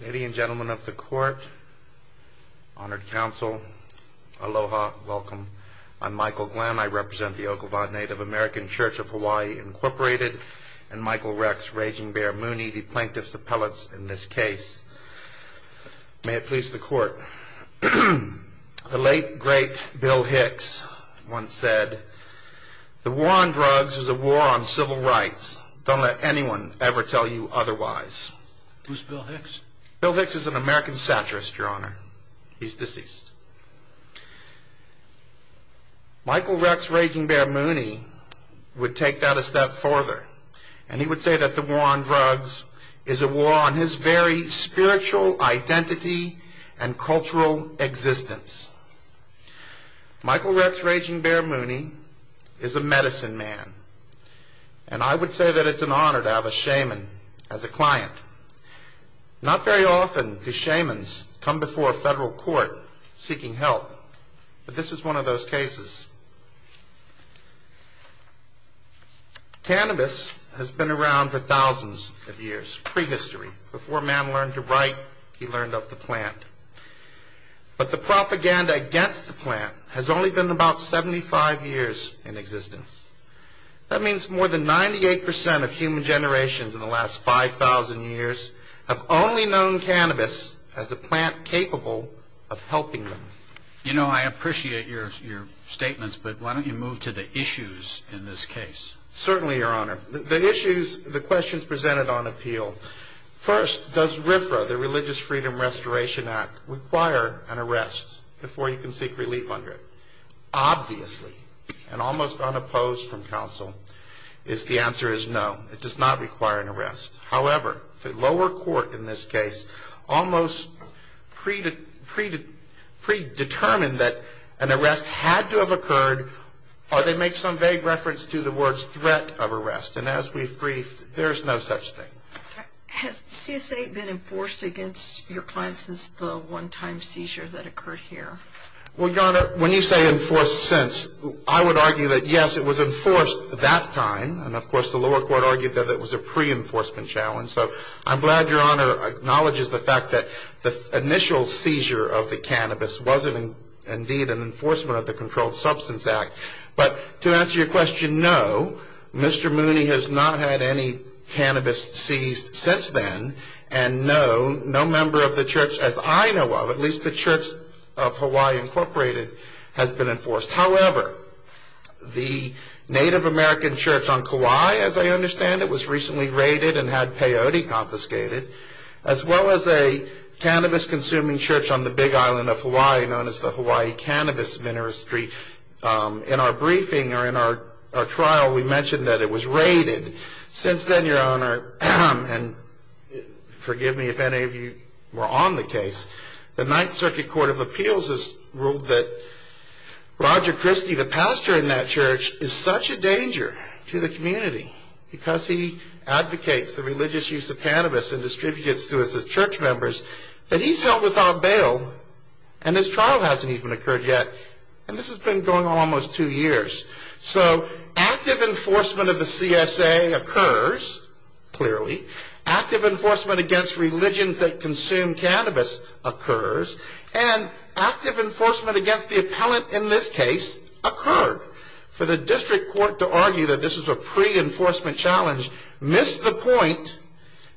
Ladies and gentlemen of the court, honored counsel, aloha, welcome. I'm Michael Glenn. I represent the Oklevueha Native American Church of Hawaii, Incorporated, and Michael Rex Raging Bear Mooney, the plaintiff's appellate in this case. May it please the court, the late, great Bill Hicks once said, the war on drugs is a war on civil rights. Don't let anyone ever tell you otherwise. Who's Bill Hicks? Bill Hicks is an American satirist, your honor. He's deceased. Michael Rex Raging Bear Mooney would take that a step further, and he would say that the war on drugs is a war on his very spiritual identity and cultural existence. Michael Rex Raging Bear Mooney is a medicine man, and I would say that it's an honor to have a shaman as a client. Not very often do shamans come before a federal court seeking help, but this is one of those cases. Cannabis has been around for thousands of years, prehistory. Before man learned to write, he learned of the plant. But the propaganda against the plant has only been about 75 years in existence. That means more than 98 percent of human generations in the last 5,000 years have only known cannabis as a plant capable of helping them. You know, I appreciate your statements, but why don't you move to the issues in this case? Certainly, your honor. The issues, the questions presented on appeal. First, does RFRA, the Religious Freedom Restoration Act, require an arrest before you can seek relief under it? Obviously, and almost unopposed from counsel, is the answer is no. It does not require an arrest. However, the lower court in this case almost predetermined that an arrest had to have occurred, or they make some vague reference to the words threat of arrest. And as we've briefed, there's no such thing. Has the CSA been enforced against your client since the one-time seizure that occurred here? Well, your honor, when you say enforced since, I would argue that yes, it was enforced that time. And of course, the lower court argued that it was a pre-enforcement challenge. So I'm glad your honor acknowledges the fact that the initial seizure of the cannabis wasn't indeed an enforcement of the Controlled Substance Act. But to answer your question, no, Mr. Mooney has not had any cannabis seized since then. And no, no member of the church, as I know of, at least the Church of Hawaii Incorporated, has been enforced. However, the Native American church on Kauai, as I understand it, was recently raided and had peyote confiscated, as well as a cannabis-consuming church on the big island of Hawaii known as the Hawaii Cannabis Ministry. In our briefing or in our trial, we mentioned that it was raided. Since then, your honor, and forgive me if any of you were on the case, the Ninth Circuit Court of Appeals has ruled that Roger Christie, the pastor in that church, is such a danger to the community because he advocates the religious use of cannabis and distributes it to his church members, that he's held without bail and his trial hasn't even occurred yet. And this has been going on almost two years. So active enforcement of the CSA occurs, clearly. Active enforcement against religions that consume cannabis occurs. And active enforcement against the appellant in this case occurred. For the district court to argue that this was a pre-enforcement challenge missed the point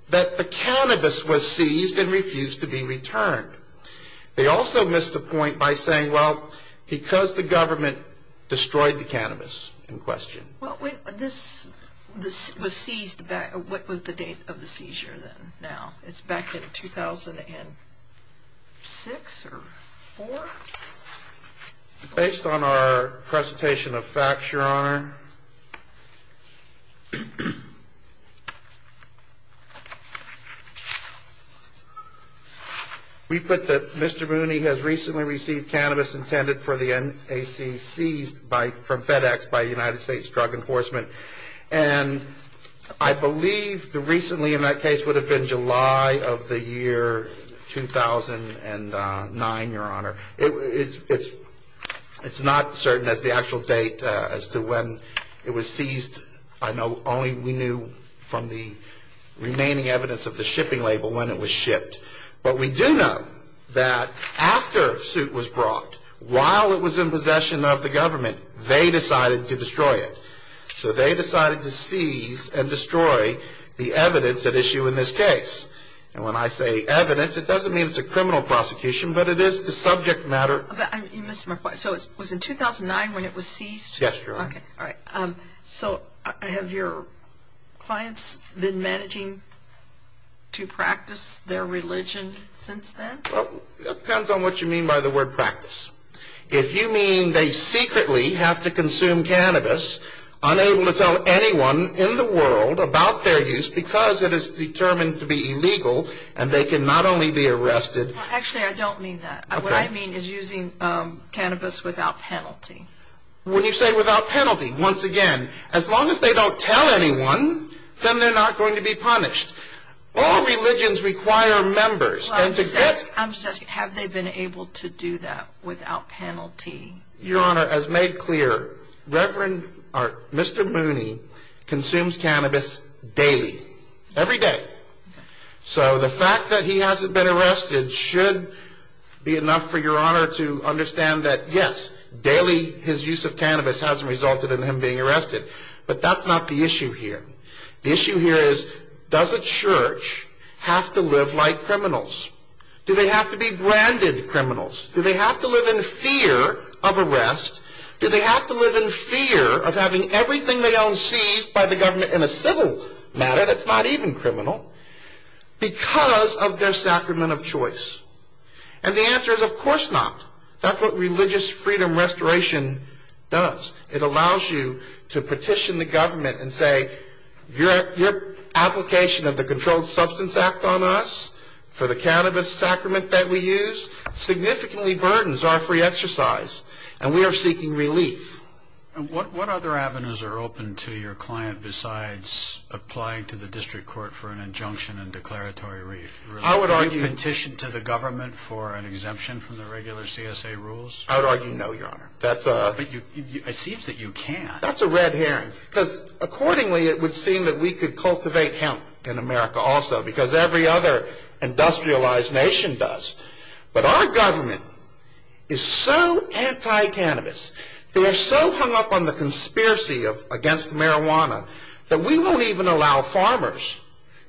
that the cannabis was seized and refused to be returned. They also missed the point by saying, well, because the government destroyed the cannabis in question. What was the date of the seizure then, now? It's back in 2006 or 4? Based on our presentation of facts, your honor, we put that Mr. Mooney has recently received cannabis intended for the NAC seized from FedEx by United States Drug Enforcement. And I believe the recently in that case would have been July of the year 2009, your honor. It's not certain as the actual date as to when it was seized. I know only we knew from the remaining evidence of the shipping label when it was shipped. But we do know that after the suit was brought, while it was in possession of the government, they decided to destroy it. So they decided to seize and destroy the evidence at issue in this case. And when I say evidence, it doesn't mean it's a criminal prosecution, but it is the subject matter. So it was in 2009 when it was seized? Yes, your honor. So have your clients been managing to practice their religion since then? It depends on what you mean by the word practice. If you mean they secretly have to consume cannabis, unable to tell anyone in the world about their use because it is determined to be illegal and they can not only be arrested. Actually, I don't mean that. What I mean is using cannabis without penalty. When you say without penalty, once again, as long as they don't tell anyone, then they're not going to be punished. All religions require members. I'm just asking, have they been able to do that without penalty? Your honor, as made clear, Mr. Mooney consumes cannabis daily, every day. So the fact that he hasn't been arrested should be enough for your honor to understand that yes, daily his use of cannabis hasn't resulted in him being arrested. But that's not the issue here. The issue here is does a church have to live like criminals? Do they have to be branded criminals? Do they have to live in fear of arrest? Do they have to live in fear of having everything they own seized by the government in a civil matter that's not even criminal because of their sacrament of choice? And the answer is of course not. That's what religious freedom restoration does. It allows you to petition the government and say your application of the Controlled Substance Act on us for the cannabis sacrament that we use significantly burdens our free exercise and we are seeking relief. And what other avenues are open to your client besides applying to the district court for an injunction and declaratory relief? I would argue... Do you petition to the government for an exemption from the regular CSA rules? I would argue no, your honor. But it seems that you can. That's a red herring because accordingly it would seem that we could cultivate hemp in America also because every other industrialized nation does. But our government is so anti-cannabis. They are so hung up on the conspiracy against marijuana that we won't even allow farmers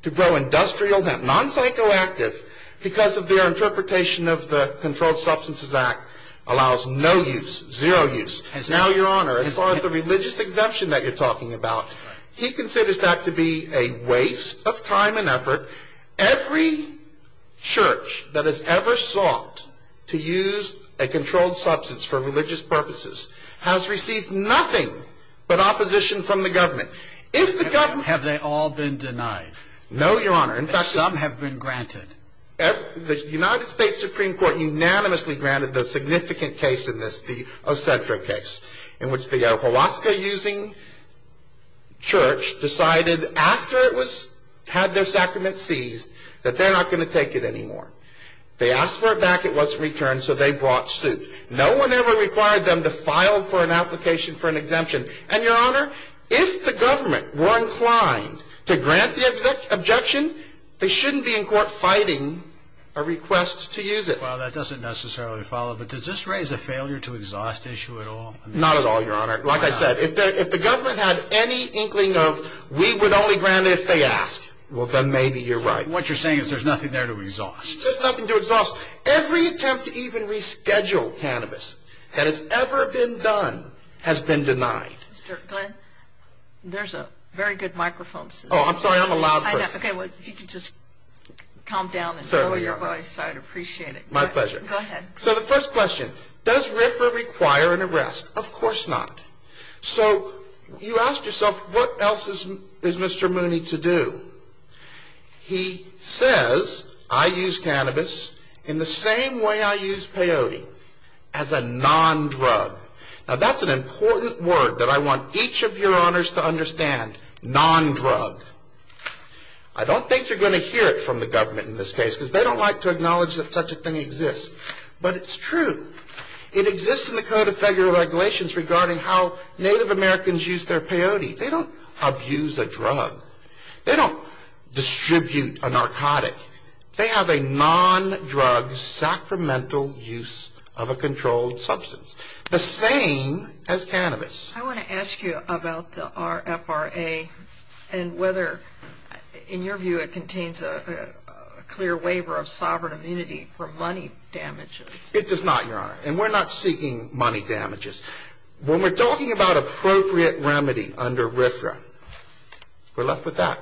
to grow industrial hemp, non-psychoactive because of their interpretation of the Controlled Substances Act allows no use, zero use. Now, your honor, as far as the religious exemption that you're talking about, he considers that to be a waste of time and effort. Every church that has ever sought to use a controlled substance for religious purposes has received nothing but opposition from the government. Have they all been denied? No, your honor. Some have been granted. The United States Supreme Court unanimously granted the significant case in this, the Ocentra case, in which the Holaska using church decided after it had their sacraments seized that they're not going to take it anymore. They asked for it back, it wasn't returned, so they brought suit. No one ever required them to file for an application for an exemption. And, your honor, if the government were inclined to grant the objection, they shouldn't be in court fighting a request to use it. Well, that doesn't necessarily follow, but does this raise a failure to exhaust issue at all? Not at all, your honor. Like I said, if the government had any inkling of we would only grant it if they ask, then maybe you're right. What you're saying is there's nothing there to exhaust. Every attempt to even reschedule cannabis that has ever been done has been denied. Mr. Glenn, there's a very good microphone. Oh, I'm sorry, I'm a loud person. Okay, well, if you could just calm down and lower your voice, I'd appreciate it. My pleasure. Go ahead. So the first question, does RFRA require an arrest? Of course not. So you ask yourself, what else is Mr. Mooney to do? He says, I use cannabis in the same way I use peyote, as a non-drug. Now, that's an important word that I want each of your honors to understand, non-drug. I don't think you're going to hear it from the government in this case, because they don't like to acknowledge that such a thing exists. But it's true. It exists in the Code of Federal Regulations regarding how Native Americans use their peyote. They don't abuse a drug. They don't distribute a narcotic. They have a non-drug, sacramental use of a controlled substance. The same as cannabis. I want to ask you about the RFRA and whether, in your view, it contains a clear waiver of sovereign immunity for money damages. It does not, Your Honor. And we're not seeking money damages. When we're talking about appropriate remedy under RFRA, we're left with that.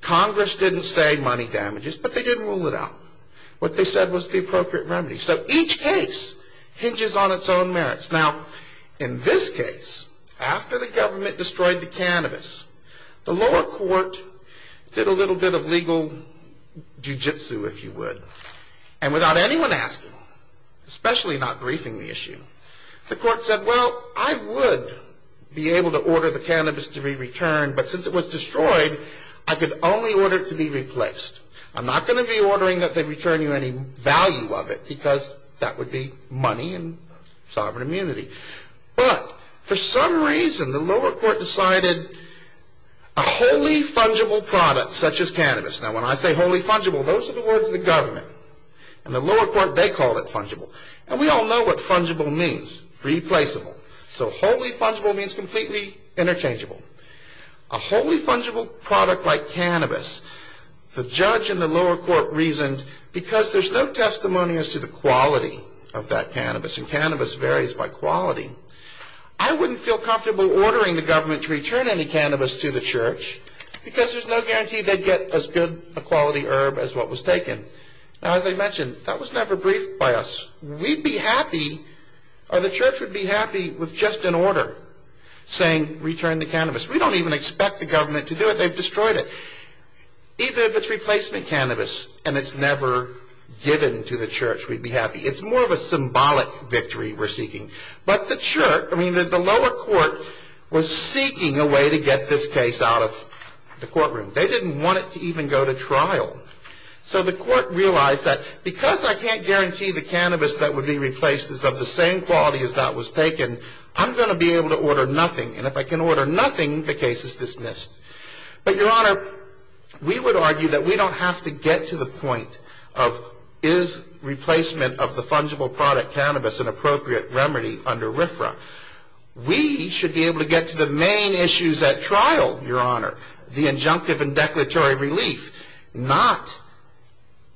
Congress didn't say money damages, but they didn't rule it out. What they said was the appropriate remedy. So each case hinges on its own merits. Now, in this case, after the government destroyed the cannabis, the lower court did a little bit of legal jujitsu, if you would. And without anyone asking, especially not briefing the issue, the court said, well, I would be able to order the cannabis to be returned, but since it was destroyed, I could only order it to be replaced. I'm not going to be ordering that they return you any value of it because that would be money and sovereign immunity. But for some reason, the lower court decided a wholly fungible product such as cannabis. Now, when I say wholly fungible, those are the words of the government. In the lower court, they called it fungible. And we all know what fungible means, replaceable. So wholly fungible means completely interchangeable. A wholly fungible product like cannabis, the judge in the lower court reasoned, because there's no testimony as to the quality of that cannabis, and cannabis varies by quality, I wouldn't feel comfortable ordering the government to return any cannabis to the church because there's no guarantee they'd get as good a quality herb as what was taken. Now, as I mentioned, that was never briefed by us. We'd be happy or the church would be happy with just an order saying return the cannabis. We don't even expect the government to do it. They've destroyed it. Even if it's replacement cannabis and it's never given to the church, we'd be happy. It's more of a symbolic victory we're seeking. But the lower court was seeking a way to get this case out of the courtroom. They didn't want it to even go to trial. So the court realized that because I can't guarantee the cannabis that would be replaced is of the same quality as that was taken, I'm going to be able to order nothing. And if I can order nothing, the case is dismissed. But, Your Honor, we would argue that we don't have to get to the point of, is replacement of the fungible product cannabis an appropriate remedy under RFRA? We should be able to get to the main issues at trial, Your Honor, the injunctive and declaratory relief. Not,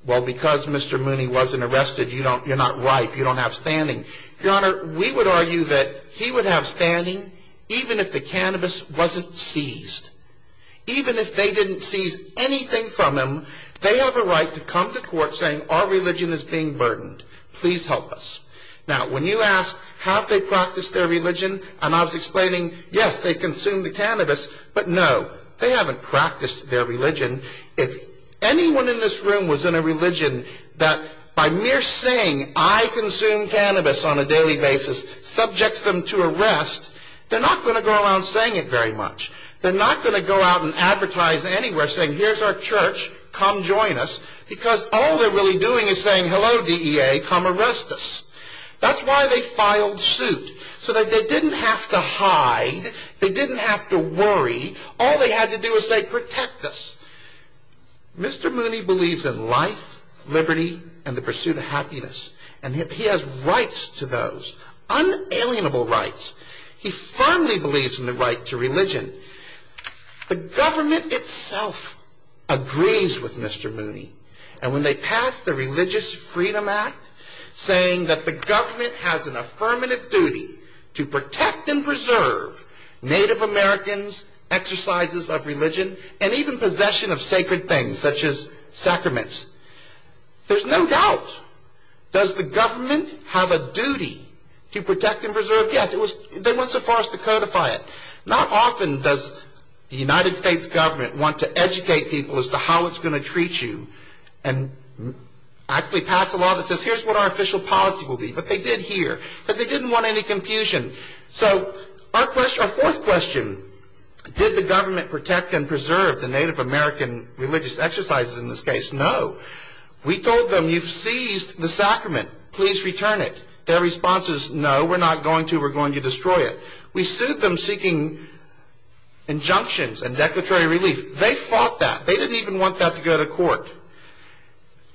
well, because Mr. Mooney wasn't arrested, you're not ripe, you don't have standing. Your Honor, we would argue that he would have standing even if the cannabis wasn't seized. Even if they didn't seize anything from him, they have a right to come to court saying our religion is being burdened. Please help us. Now, when you ask, have they practiced their religion? And I was explaining, yes, they consume the cannabis, but no, they haven't practiced their religion. If anyone in this room was in a religion that by mere saying, I consume cannabis on a daily basis subjects them to arrest, they're not going to go around saying it very much. They're not going to go out and advertise anywhere saying, here's our church, come join us, because all they're really doing is saying, hello DEA, come arrest us. That's why they filed suit, so that they didn't have to hide, they didn't have to worry, all they had to do was say, protect us. Mr. Mooney believes in life, liberty, and the pursuit of happiness, and he has rights to those, unalienable rights. He firmly believes in the right to religion. The government itself agrees with Mr. Mooney, and when they pass the Religious Freedom Act, saying that the government has an affirmative duty to protect and preserve Native Americans' exercises of religion, and even possession of sacred things, such as sacraments, there's no doubt. Does the government have a duty to protect and preserve? Yes, they went so far as to codify it. Not often does the United States government want to educate people as to how it's going to treat you, and actually pass a law that says, here's what our official policy will be, but they did here, because they didn't want any confusion. So, our fourth question, did the government protect and preserve the Native American religious exercises in this case? No. We told them, you've seized the sacrament, please return it. Their response is, no, we're not going to, we're going to destroy it. We sued them seeking injunctions and declaratory relief. They fought that. They didn't even want that to go to court.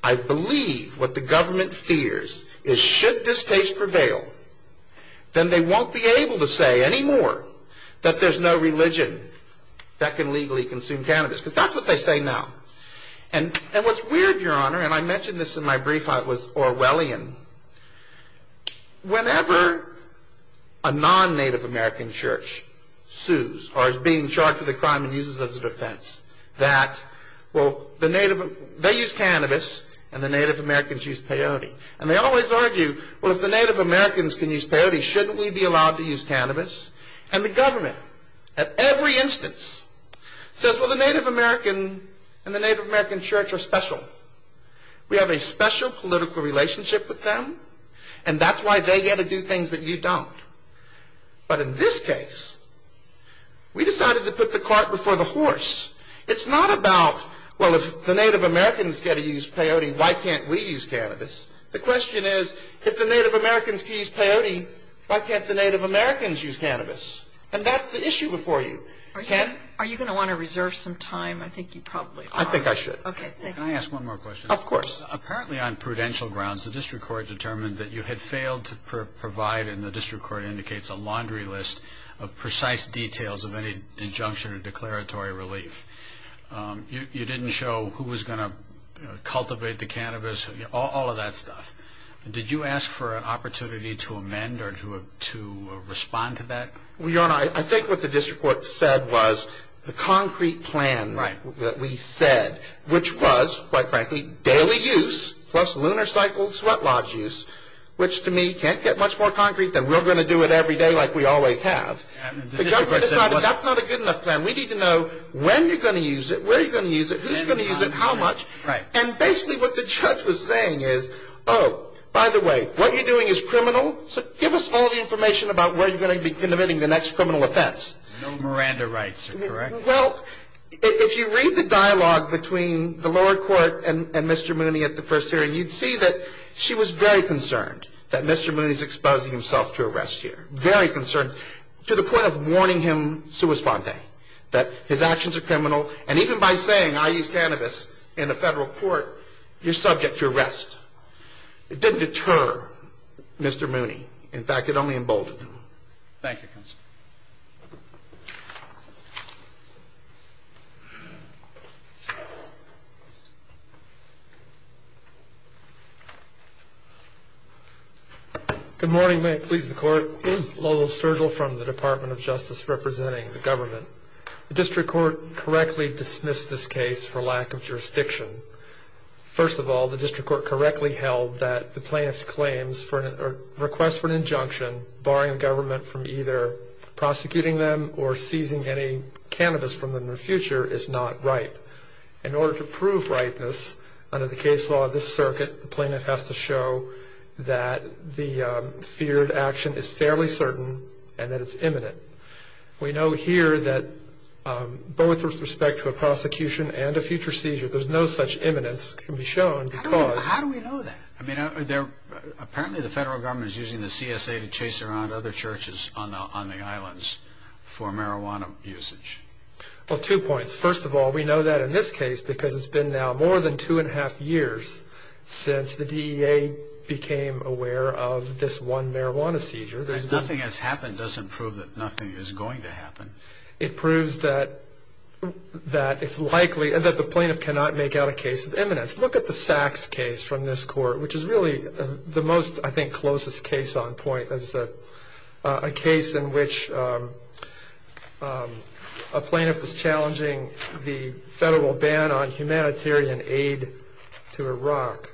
I believe what the government fears is, should this case prevail, then they won't be able to say anymore that there's no religion that can legally consume cannabis, because that's what they say now. And what's weird, Your Honor, and I mentioned this in my brief, I was Orwellian, whenever a non-Native American church sues, or is being charged with a crime and uses it as a defense, that, well, they use cannabis, and the Native Americans use peyote. And they always argue, well, if the Native Americans can use peyote, shouldn't we be allowed to use cannabis? And the government, at every instance, says, well, the Native American and the Native American church are special. We have a special political relationship with them, and that's why they get to do things that you don't. But in this case, we decided to put the cart before the horse. It's not about, well, if the Native Americans get to use peyote, why can't we use cannabis? The question is, if the Native Americans use peyote, why can't the Native Americans use cannabis? And that's the issue before you. Are you going to want to reserve some time? I think you probably ought to. I think I should. Can I ask one more question? Of course. Apparently, on prudential grounds, the district court determined that you had failed to provide, and the district court indicates a laundry list of precise details of any injunction or declaratory relief. You didn't show who was going to cultivate the cannabis, all of that stuff. Did you ask for an opportunity to amend or to respond to that? Your Honor, I think what the district court said was the concrete plan that we said, which was, quite frankly, daily use plus lunar cycle sweat lodge use, which to me can't get much more concrete than we're going to do it every day like we always have. The government decided that's not a good enough plan. We need to know when you're going to use it, where you're going to use it, who's going to use it, how much. And basically what the judge was saying is, oh, by the way, what you're doing is criminal, so give us all the information about where you're going to be committing the next criminal offense. No Miranda rights are correct. Well, if you read the dialogue between the lower court and Mr. Mooney at the first hearing, you'd see that she was very concerned that Mr. Mooney is exposing himself to arrest here, very concerned to the point of warning him sua sponte, that his actions are criminal, and even by saying I use cannabis in a federal court, you're subject to arrest. It didn't deter Mr. Mooney. In fact, it only emboldened him. Thank you, counsel. Thank you. Good morning. May it please the court. Lowell Sturgill from the Department of Justice representing the government. The district court correctly dismissed this case for lack of jurisdiction. First of all, the district court correctly held that the plaintiff's claims for a request for an injunction, barring the government from either prosecuting them or seizing any cannabis from them in the future is not right. In order to prove rightness under the case law of this circuit, the plaintiff has to show that the feared action is fairly certain and that it's imminent. We know here that both with respect to a prosecution and a future seizure, there's no such imminence can be shown because. How do we know that? I mean, apparently the federal government is using the CSA to chase around other churches on the islands for marijuana usage. Well, two points. First of all, we know that in this case because it's been now more than two and a half years since the DEA became aware of this one marijuana seizure. Nothing that's happened doesn't prove that nothing is going to happen. It proves that it's likely and that the plaintiff cannot make out a case of imminence. Let's look at the Sachs case from this court, which is really the most, I think, closest case on point. It's a case in which a plaintiff is challenging the federal ban on humanitarian aid to Iraq.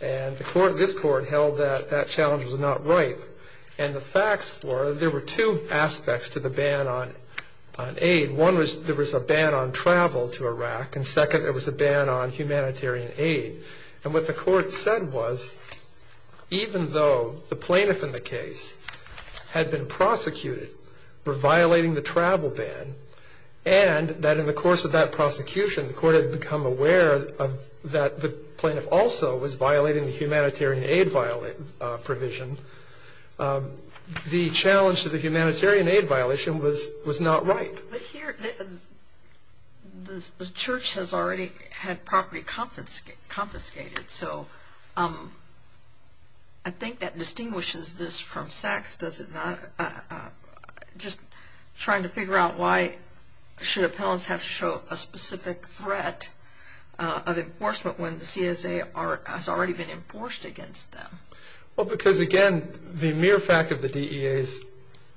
And this court held that that challenge was not right. And the facts were there were two aspects to the ban on aid. One was there was a ban on travel to Iraq. And second, there was a ban on humanitarian aid. And what the court said was even though the plaintiff in the case had been prosecuted for violating the travel ban and that in the course of that prosecution, the court had become aware that the plaintiff also was violating the humanitarian aid provision, the challenge to the humanitarian aid violation was not right. But here, the church has already had property confiscated. So I think that distinguishes this from Sachs, does it not? Just trying to figure out why should appellants have to show a specific threat of enforcement when the CSA has already been enforced against them. Well, because again, the mere fact of the DEA's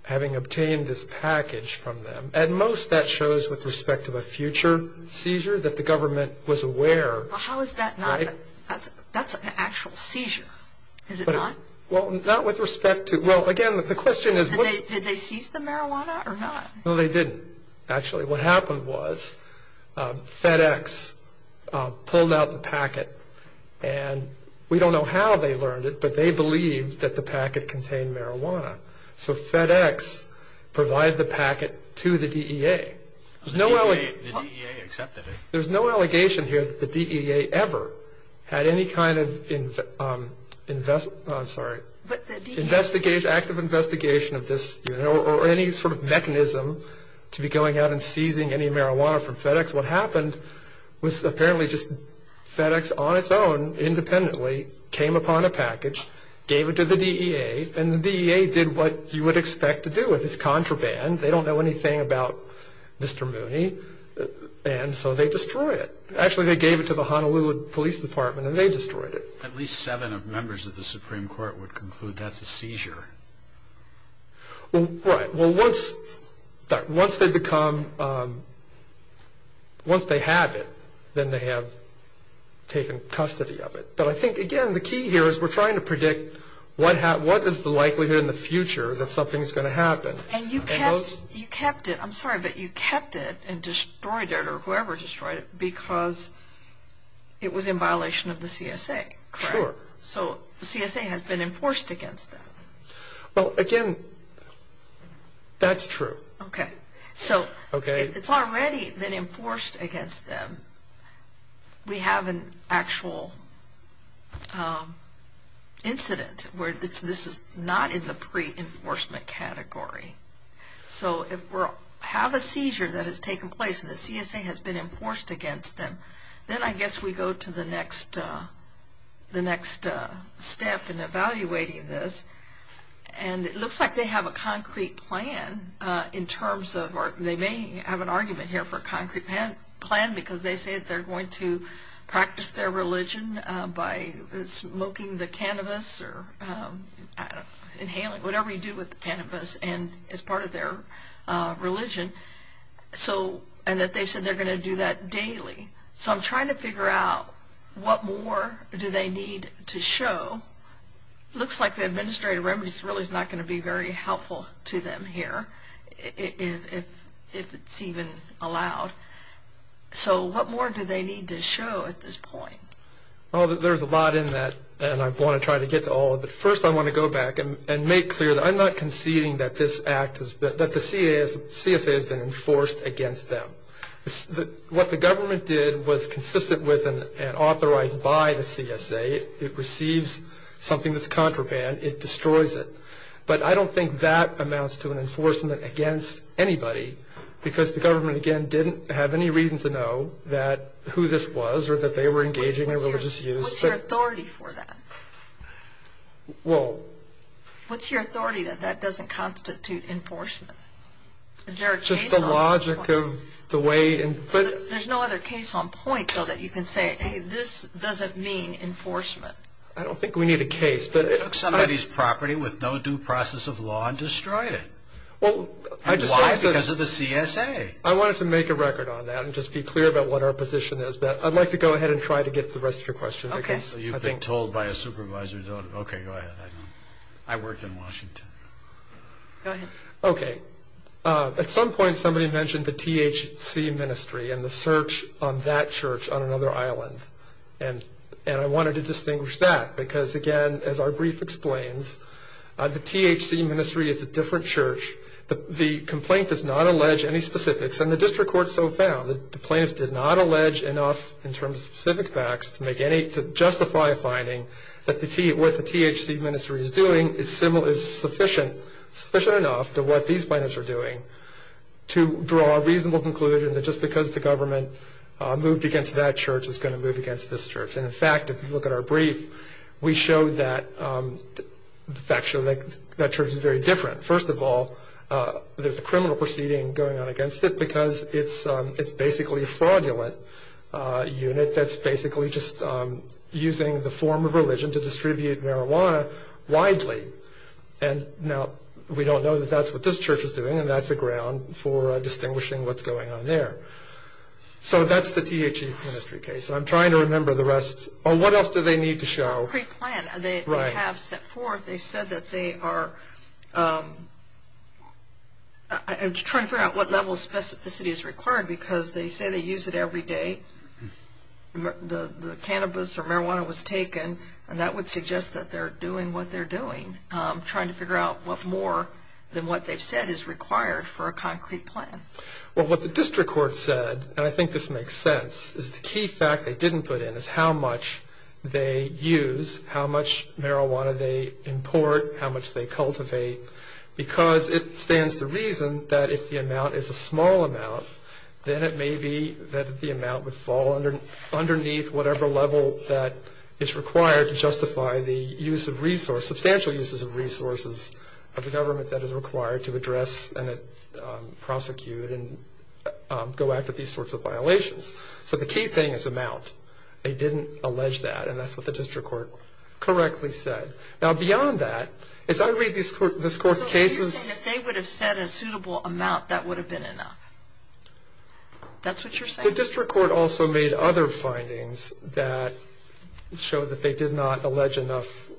having obtained this package from them, at most that shows with respect to a future seizure that the government was aware. Well, how is that not? That's an actual seizure, is it not? Well, not with respect to. Well, again, the question is. Did they seize the marijuana or not? No, they didn't. Actually, what happened was FedEx pulled out the packet. And we don't know how they learned it, but they believed that the packet contained marijuana. So FedEx provided the packet to the DEA. The DEA accepted it. There's no allegation here that the DEA ever had any kind of active investigation of this or any sort of mechanism to be going out and seizing any marijuana from FedEx. What happened was apparently just FedEx on its own independently came upon a package, gave it to the DEA, and the DEA did what you would expect to do with it. It's contraband. They don't know anything about Mr. Mooney, and so they destroy it. Actually, they gave it to the Honolulu Police Department, and they destroyed it. At least seven of members of the Supreme Court would conclude that's a seizure. Right. Well, once they become, once they have it, then they have taken custody of it. But I think, again, the key here is we're trying to predict what is the likelihood in the future that something's going to happen. And you kept it. I'm sorry, but you kept it and destroyed it or whoever destroyed it because it was in violation of the CSA. Sure. So the CSA has been enforced against them. Well, again, that's true. Okay. So it's already been enforced against them. We have an actual incident where this is not in the pre-enforcement category. So if we have a seizure that has taken place and the CSA has been enforced against them, then I guess we go to the next step in evaluating this. And it looks like they have a concrete plan in terms of, or they may have an argument here for a concrete plan because they say that they're going to practice their religion by smoking the cannabis or inhaling whatever you do with the cannabis as part of their religion. And that they said they're going to do that daily. So I'm trying to figure out what more do they need to show. It looks like the administrative remedies really is not going to be very helpful to them here, if it's even allowed. So what more do they need to show at this point? Well, there's a lot in that, and I want to try to get to all of it. First, I want to go back and make clear that I'm not conceding that the CSA has been enforced against them. What the government did was consistent with and authorized by the CSA. It receives something that's contraband. It destroys it. But I don't think that amounts to an enforcement against anybody because the government, again, didn't have any reason to know who this was or that they were engaging in religious use. What's your authority for that? Well... What's your authority that that doesn't constitute enforcement? Is there a case on point? It's just the logic of the way... There's no other case on point, though, that you can say, hey, this doesn't mean enforcement. I don't think we need a case, but... They took somebody's property with no due process of law and destroyed it. And why? Because of the CSA. I wanted to make a record on that and just be clear about what our position is. I'd like to go ahead and try to get to the rest of your questions. Okay. You've been told by a supervisor, okay, go ahead. I worked in Washington. Go ahead. Okay. At some point somebody mentioned the THC ministry and the search on that church on another island. And I wanted to distinguish that because, again, as our brief explains, the THC ministry is a different church. The complaint does not allege any specifics. And the district court so found that the plaintiffs did not allege enough in terms of specific facts to justify a finding that what the THC ministry is doing is sufficient enough to what these plaintiffs are doing to draw a reasonable conclusion that just because the government moved against that church it's going to move against this church. And, in fact, if you look at our brief, we show that church is very different. First of all, there's a criminal proceeding going on against it because it's basically a fraudulent unit that's basically just using the form of religion to distribute marijuana widely. And now we don't know that that's what this church is doing, and that's a ground for distinguishing what's going on there. So that's the THC ministry case. And I'm trying to remember the rest. What else do they need to show? Pre-plan. Right. They have set forth, they said that they are trying to figure out what level of specificity is required because they say they use it every day. The cannabis or marijuana was taken, and that would suggest that they're doing what they're doing, trying to figure out what more than what they've said is required for a concrete plan. Well, what the district court said, and I think this makes sense, is the key fact they didn't put in is how much they use, how much marijuana they import, how much they cultivate, because it stands to reason that if the amount is a small amount, then it may be that the amount would fall underneath whatever level that is required to justify the use of resources, substantial uses of resources, of the government that is required to address and prosecute and go after these sorts of violations. So the key thing is amount. They didn't allege that, and that's what the district court correctly said. Now, beyond that, as I read this court's cases — So you're saying if they would have said a suitable amount, that would have been enough? That's what you're saying? The district court also made other findings that show that they did not allege enough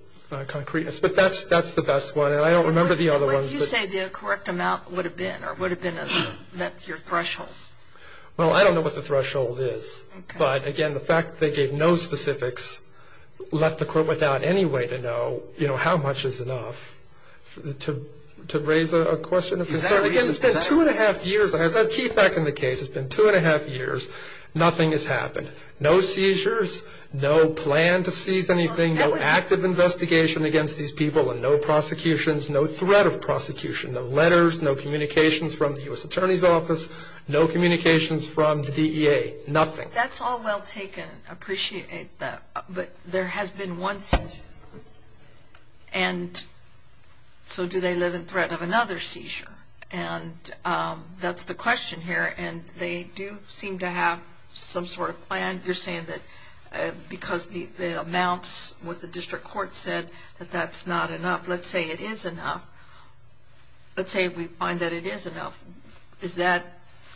concreteness, but that's the best one, and I don't remember the other ones. What did you say the correct amount would have been or would have been? That's your threshold. Well, I don't know what the threshold is. But, again, the fact they gave no specifics left the court without any way to know, you know, how much is enough to raise a question of concern. It's been two and a half years. I have a key fact in the case. It's been two and a half years. Nothing has happened. No seizures, no plan to seize anything, no active investigation against these people, and no prosecutions, no threat of prosecution, no letters, no communications from the U.S. Attorney's Office, no communications from the DEA, nothing. That's all well taken. I appreciate that. But there has been one seizure, and so do they live in threat of another seizure? And that's the question here, and they do seem to have some sort of plan. You're saying that because the amounts with the district court said that that's not enough. Let's say it is enough. Let's say we find that it is enough.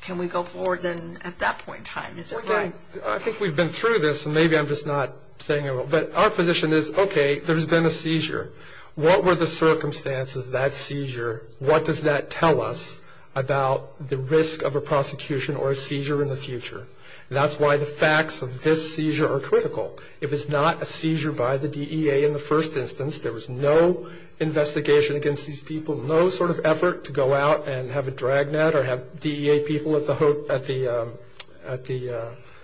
Can we go forward then at that point in time? I think we've been through this, and maybe I'm just not saying it well. But our position is, okay, there's been a seizure. What were the circumstances of that seizure? What does that tell us about the risk of a prosecution or a seizure in the future? That's why the facts of this seizure are critical. It was not a seizure by the DEA in the first instance. There was no investigation against these people, no sort of effort to go out and have a dragnet or have DEA people at the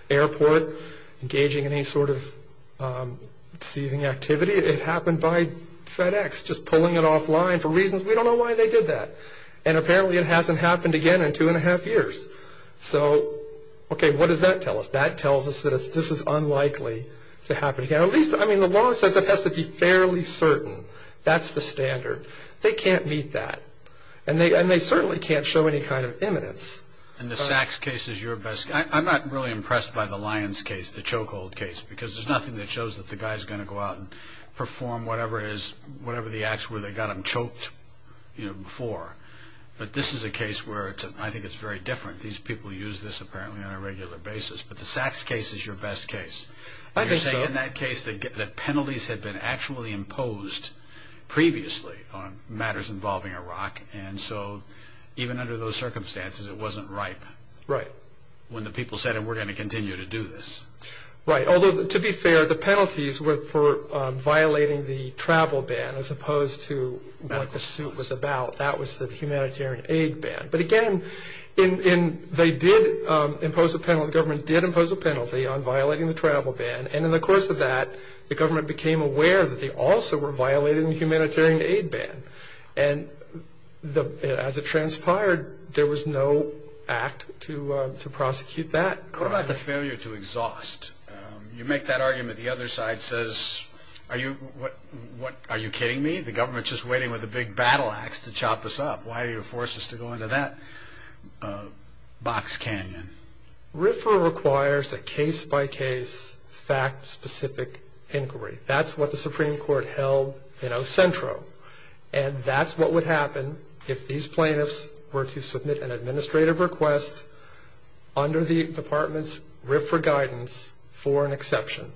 airport engaging in any sort of seizing activity. It happened by FedEx just pulling it offline for reasons we don't know why they did that. And apparently it hasn't happened again in two and a half years. So, okay, what does that tell us? That tells us that this is unlikely to happen again. At least, I mean, the law says it has to be fairly certain. That's the standard. They can't meet that, and they certainly can't show any kind of imminence. And the Sachs case is your best guess. I'm not really impressed by the Lyons case, the chokehold case, because there's nothing that shows that the guy's going to go out and perform whatever it is, whatever the acts were that got him choked before. But this is a case where I think it's very different. These people use this apparently on a regular basis. But the Sachs case is your best case. You're saying in that case that penalties had been actually imposed previously on matters involving Iraq, and so even under those circumstances it wasn't ripe when the people said, and we're going to continue to do this. Right. Although, to be fair, the penalties were for violating the travel ban as opposed to what the suit was about. That was the humanitarian aid ban. But again, they did impose a penalty, the government did impose a penalty on violating the travel ban. And in the course of that, the government became aware that they also were violating the humanitarian aid ban. And as it transpired, there was no act to prosecute that crime. What about the failure to exhaust? You make that argument, the other side says, are you kidding me? The government's just waiting with a big battle axe to chop us up. Why do you force us to go into that box canyon? RFRA requires a case-by-case, fact-specific inquiry. That's what the Supreme Court held, you know, centro. And that's what would happen if these plaintiffs were to submit an administrative request under the department's RFRA guidance for an exception.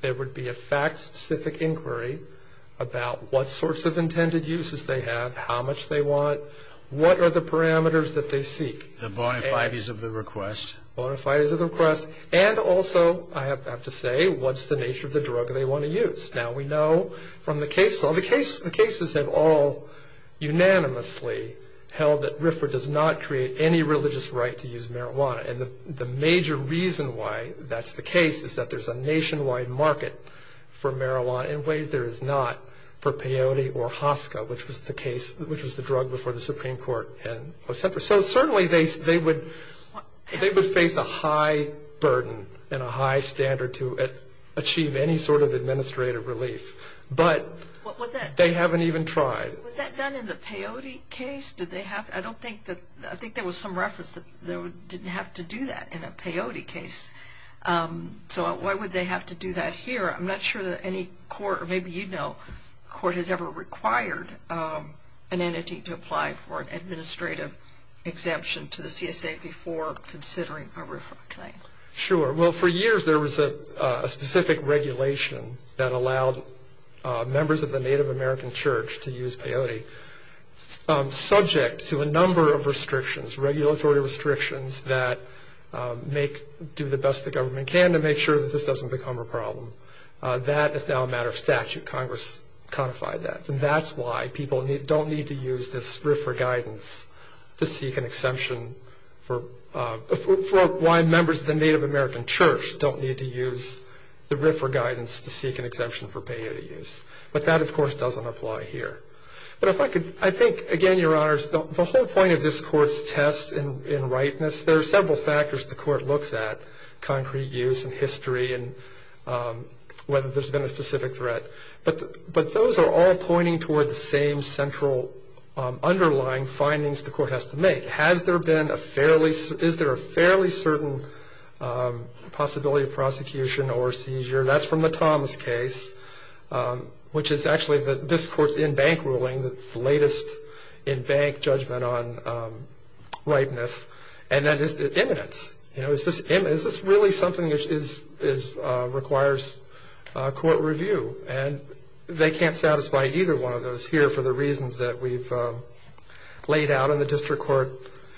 There would be a fact-specific inquiry about what sorts of intended uses they have, how much they want, what are the parameters that they seek. The bonafides of the request. Bonafides of the request, and also, I have to say, what's the nature of the drug they want to use. Now, we know from the case law, the cases have all unanimously held that RFRA does not create any religious right to use marijuana. And the major reason why that's the case is that there's a nationwide market for marijuana in ways there is not for peyote or hosca, which was the drug before the Supreme Court. So certainly they would face a high burden and a high standard to achieve any sort of administrative relief. But they haven't even tried. Was that done in the peyote case? I think there was some reference that they didn't have to do that in a peyote case. So why would they have to do that here? I'm not sure that any court, or maybe you know, court has ever required an entity to apply for an administrative exemption to the CSA before considering a RFRA claim. Sure. Well, for years there was a specific regulation that allowed members of the Native American church to use peyote, subject to a number of restrictions, regulatory restrictions, that do the best the government can to make sure that this doesn't become a problem. That is now a matter of statute. Congress codified that. And that's why people don't need to use this RFRA guidance to seek an exemption for why members of the Native American church don't need to use the RFRA guidance to seek an exemption for peyote use. But that, of course, doesn't apply here. But if I could, I think, again, Your Honors, the whole point of this court's test in rightness, there are several factors the court looks at, concrete use and history and whether there's been a specific threat. But those are all pointing toward the same central underlying findings the court has to make. Has there been a fairly, is there a fairly certain possibility of prosecution or seizure? That's from the Thomas case, which is actually this court's in-bank ruling. It's the latest in-bank judgment on rightness. And then is it imminence? Is this really something that requires court review? And they can't satisfy either one of those here for the reasons that we've laid out and the district court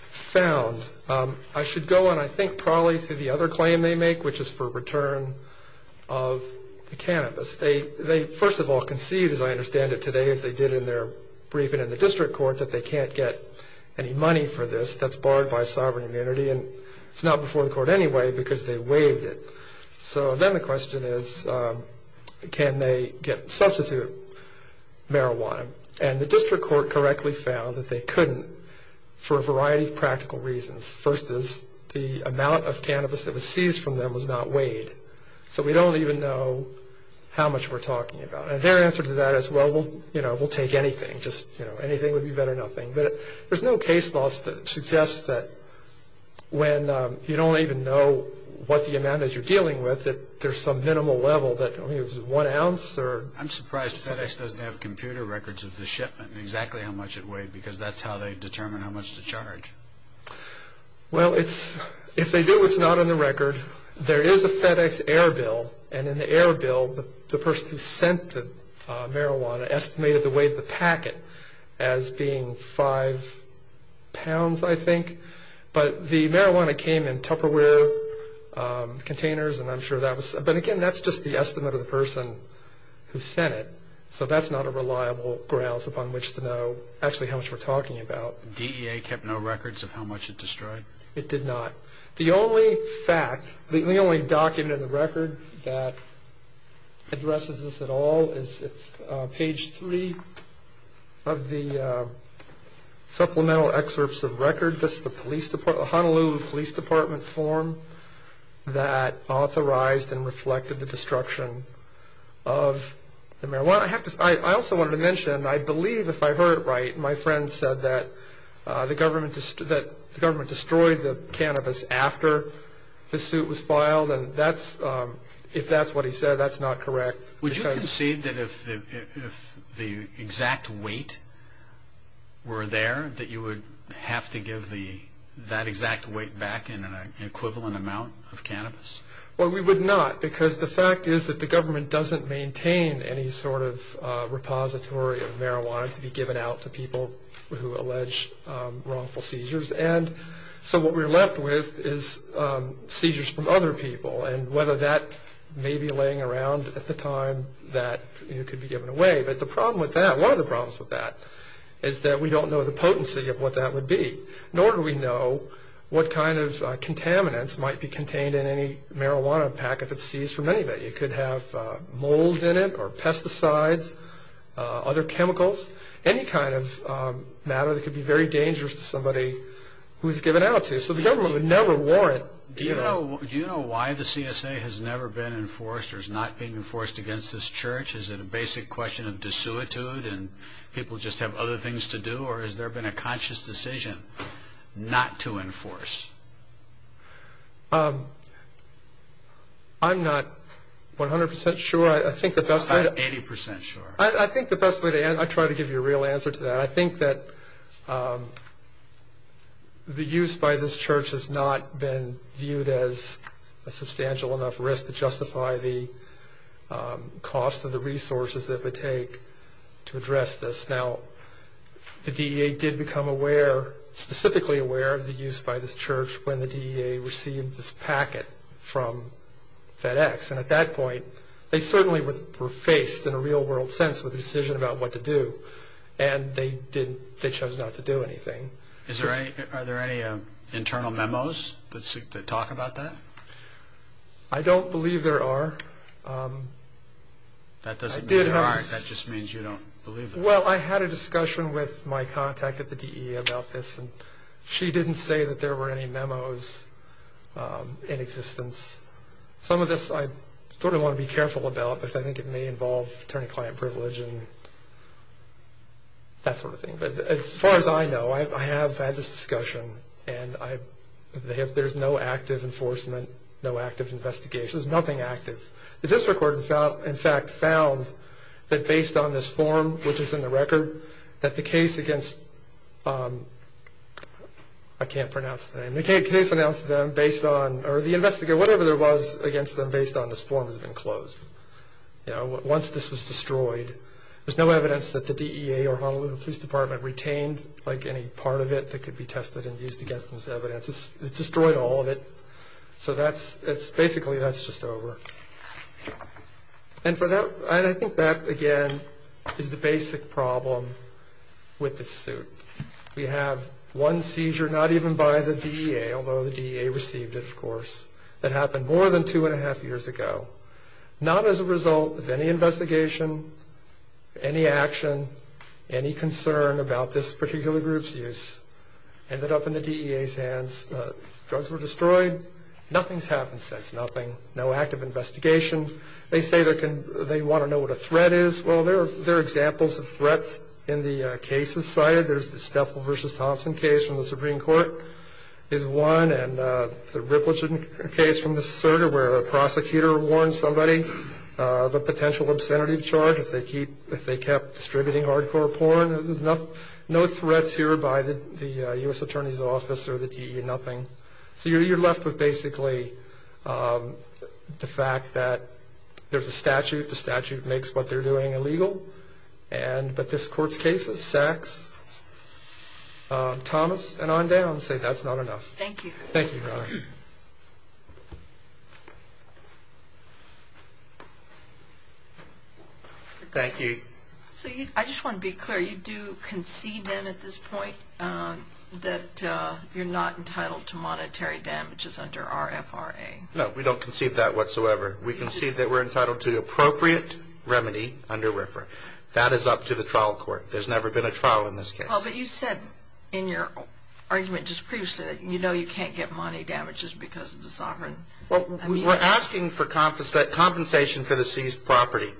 found. I should go on, I think, probably to the other claim they make, which is for return of the cannabis. They, first of all, conceived, as I understand it today, as they did in their briefing in the district court, that they can't get any money for this that's barred by sovereign immunity. And it's not before the court anyway because they waived it. So then the question is, can they substitute marijuana? And the district court correctly found that they couldn't for a variety of practical reasons. First is the amount of cannabis that was seized from them was not weighed. So we don't even know how much we're talking about. And their answer to that is, well, you know, we'll take anything. Just, you know, anything would be better than nothing. But there's no case law that suggests that when you don't even know what the amount is you're dealing with, that there's some minimal level that, I mean, is it one ounce or? I'm surprised FedEx doesn't have computer records of the shipment, exactly how much it weighed, because that's how they determine how much to charge. Well, if they do, it's not on the record. There is a FedEx air bill, and in the air bill, the person who sent the marijuana estimated the weight of the packet as being five pounds, I think. But the marijuana came in Tupperware containers, and I'm sure that was... So that's not a reliable grounds upon which to know actually how much we're talking about. DEA kept no records of how much it destroyed? It did not. The only fact, the only document in the record that addresses this at all is page three of the supplemental excerpts of record. The Honolulu Police Department form that authorized and reflected the destruction of the marijuana. I also wanted to mention, I believe if I heard it right, my friend said that the government destroyed the cannabis after the suit was filed, and if that's what he said, that's not correct. Would you concede that if the exact weight were there, that you would have to give that exact weight back in an equivalent amount of cannabis? Well, we would not, because the fact is that the government doesn't maintain any sort of repository of marijuana to be given out to people who allege wrongful seizures. And so what we're left with is seizures from other people, and whether that may be laying around at the time that it could be given away. But the problem with that, one of the problems with that, is that we don't know the potency of what that would be, nor do we know what kind of contaminants might be contained in any marijuana packet that's seized from anybody. It could have mold in it or pesticides, other chemicals, any kind of matter that could be very dangerous to somebody who's given out to. So the government would never warrant giving. Do you know why the CSA has never been enforced or is not being enforced against this church? Is it a basic question of desuetude and people just have other things to do, or has there been a conscious decision not to enforce? I'm not 100 percent sure. I think the best way to answer... I'm 80 percent sure. I think the best way to answer... I'll try to give you a real answer to that. I think that the use by this church has not been viewed as a substantial enough risk to justify the cost of the resources that it would take to address this. Now, the DEA did become aware, specifically aware, of the use by this church when the DEA received this packet from FedEx. And at that point, they certainly were faced, in a real-world sense, with a decision about what to do. And they chose not to do anything. Are there any internal memos that talk about that? I don't believe there are. That doesn't mean there aren't. That just means you don't believe there are. Well, I had a discussion with my contact at the DEA about this, and she didn't say that there were any memos in existence. Some of this I sort of want to be careful about, because I think it may involve attorney-client privilege and that sort of thing. But as far as I know, I have had this discussion, and there's no active enforcement, no active investigation. There's nothing active. The district court, in fact, found that based on this form, which is in the record, that the case against... I can't pronounce the name. The case against them based on... or the investigator, whatever there was against them based on this form has been closed. Once this was destroyed, there's no evidence that the DEA or Honolulu Police Department retained any part of it that could be tested and used against them as evidence. It destroyed all of it. So basically, that's just over. And I think that, again, is the basic problem with this suit. We have one seizure, not even by the DEA, although the DEA received it, of course, that happened more than two-and-a-half years ago, not as a result of any investigation, any action, any concern about this particular group's use. Ended up in the DEA's hands. Drugs were destroyed. Nothing's happened since. Nothing. No active investigation. They say they want to know what a threat is. Well, there are examples of threats in the cases cited. There's the Steffel v. Thompson case from the Supreme Court is one, and the Ripleton case from the circuit where a prosecutor warns somebody of a potential obscenity charge if they kept distributing hardcore porn. There's no threats here by the U.S. Attorney's Office or the DEA, nothing. So you're left with basically the fact that there's a statute. The statute makes what they're doing illegal. But this Court's cases, Sachs, Thomas, and on down say that's not enough. Thank you. Thank you, Your Honor. Thank you. So I just want to be clear. You do concede then at this point that you're not entitled to monetary damages under RFRA? No, we don't concede that whatsoever. We concede that we're entitled to appropriate remedy under RFRA. That is up to the trial court. There's never been a trial in this case. But you said in your argument just previously that you know you can't get money damages because of the sovereign immunity. We're asking for compensation for the seized property.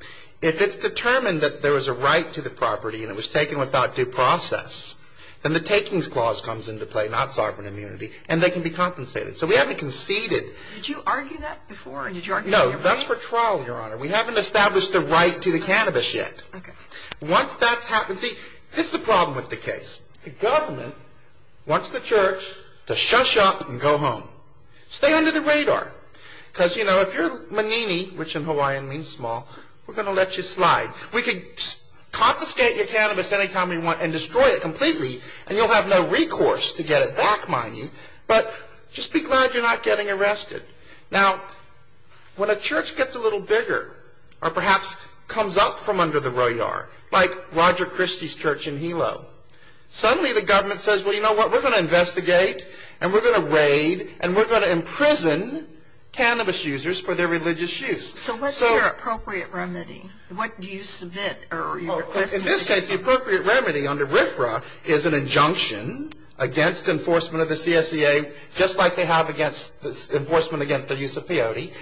If it's determined that there was a right to the property and it was taken without due process, then the takings clause comes into play, not sovereign immunity, and they can be compensated. So we haven't conceded. Did you argue that before? No. That's for trial, Your Honor. We haven't established the right to the cannabis yet. Okay. Once that's happened, see, this is the problem with the case. The government wants the church to shush up and go home. Stay under the radar. Because, you know, if you're manini, which in Hawaiian means small, we're going to let you slide. We could confiscate your cannabis any time we want and destroy it completely, and you'll have no recourse to get it back, mind you. But just be glad you're not getting arrested. Now, when a church gets a little bigger or perhaps comes up from under the royale, like Roger Christie's church in Hilo, suddenly the government says, well, you know what, we're going to investigate and we're going to raid and we're going to imprison cannabis users for their religious use. So what's your appropriate remedy? What do you submit? In this case, the appropriate remedy under RFRA is an injunction against enforcement of the CSEA, just like they have enforcement against the use of peyote,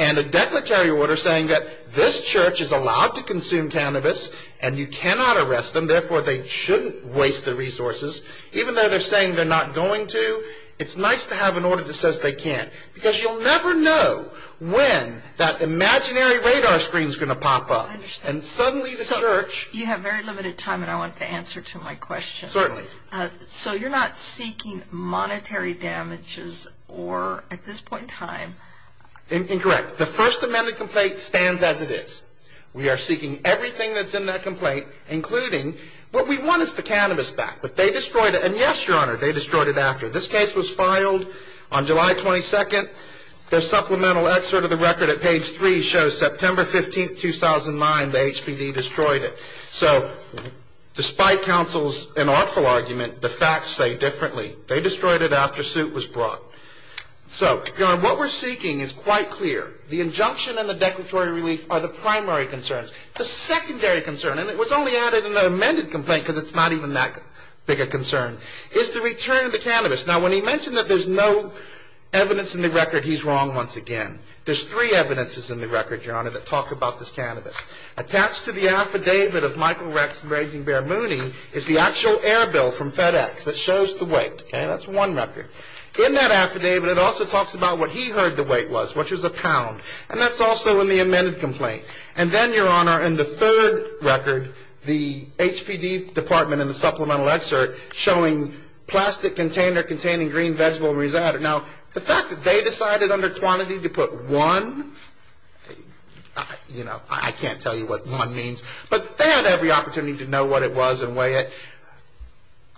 and a declaratory order saying that this church is allowed to consume cannabis and you cannot arrest them, therefore they shouldn't waste their resources. Even though they're saying they're not going to, it's nice to have an order that says they can't. Because you'll never know when that imaginary radar screen is going to pop up. And suddenly the church... You have very limited time and I want the answer to my question. Certainly. So you're not seeking monetary damages or, at this point in time... Incorrect. The First Amendment complaint stands as it is. We are seeking everything that's in that complaint, including what we want is the cannabis back, but they destroyed it. And yes, Your Honor, they destroyed it after. This case was filed on July 22nd. Their supplemental excerpt of the record at page 3 shows September 15th, 2009. The HPD destroyed it. So, despite counsel's inawful argument, the facts say differently. They destroyed it after soot was brought. So, Your Honor, what we're seeking is quite clear. The injunction and the declaratory relief are the primary concerns. The secondary concern, and it was only added in the amended complaint because it's not even that big a concern, is the return of the cannabis. Now, when he mentioned that there's no evidence in the record, he's wrong once again. There's three evidences in the record, Your Honor, that talk about this cannabis. Attached to the affidavit of Michael Rex and Brady Bear Mooney is the actual air bill from FedEx that shows the weight. Okay? That's one record. In that affidavit, it also talks about what he heard the weight was, which was a pound. And that's also in the amended complaint. And then, Your Honor, in the third record, the HPD department in the supplemental excerpt showing plastic container containing green vegetable and rosetta. Now, the fact that they decided under quantity to put one, you know, I can't tell you what one means. But they had every opportunity to know what it was and weigh it.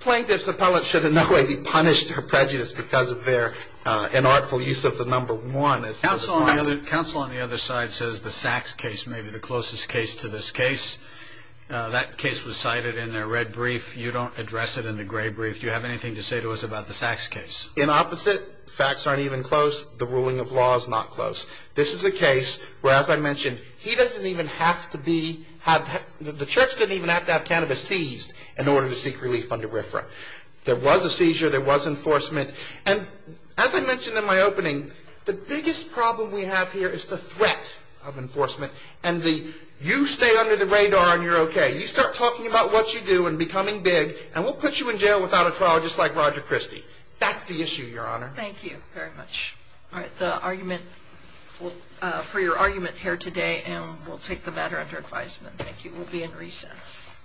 Plaintiff's appellate should in no way be punished for prejudice because of their inartful use of the number one. Counsel on the other side says the Sachs case may be the closest case to this case. That case was cited in their red brief. You don't address it in the gray brief. Do you have anything to say to us about the Sachs case? In opposite, facts aren't even close. The ruling of law is not close. This is a case where, as I mentioned, he doesn't even have to be, the church doesn't even have to have cannabis seized in order to seek relief under RFRA. There was a seizure. There was enforcement. And as I mentioned in my opening, the biggest problem we have here is the threat of enforcement and the you stay under the radar and you're okay. You start talking about what you do and becoming big, and we'll put you in jail without a trial just like Roger Christie. That's the issue, Your Honor. Thank you very much. All right. The argument for your argument here today, and we'll take the matter under advisement. Thank you. We'll be in recess.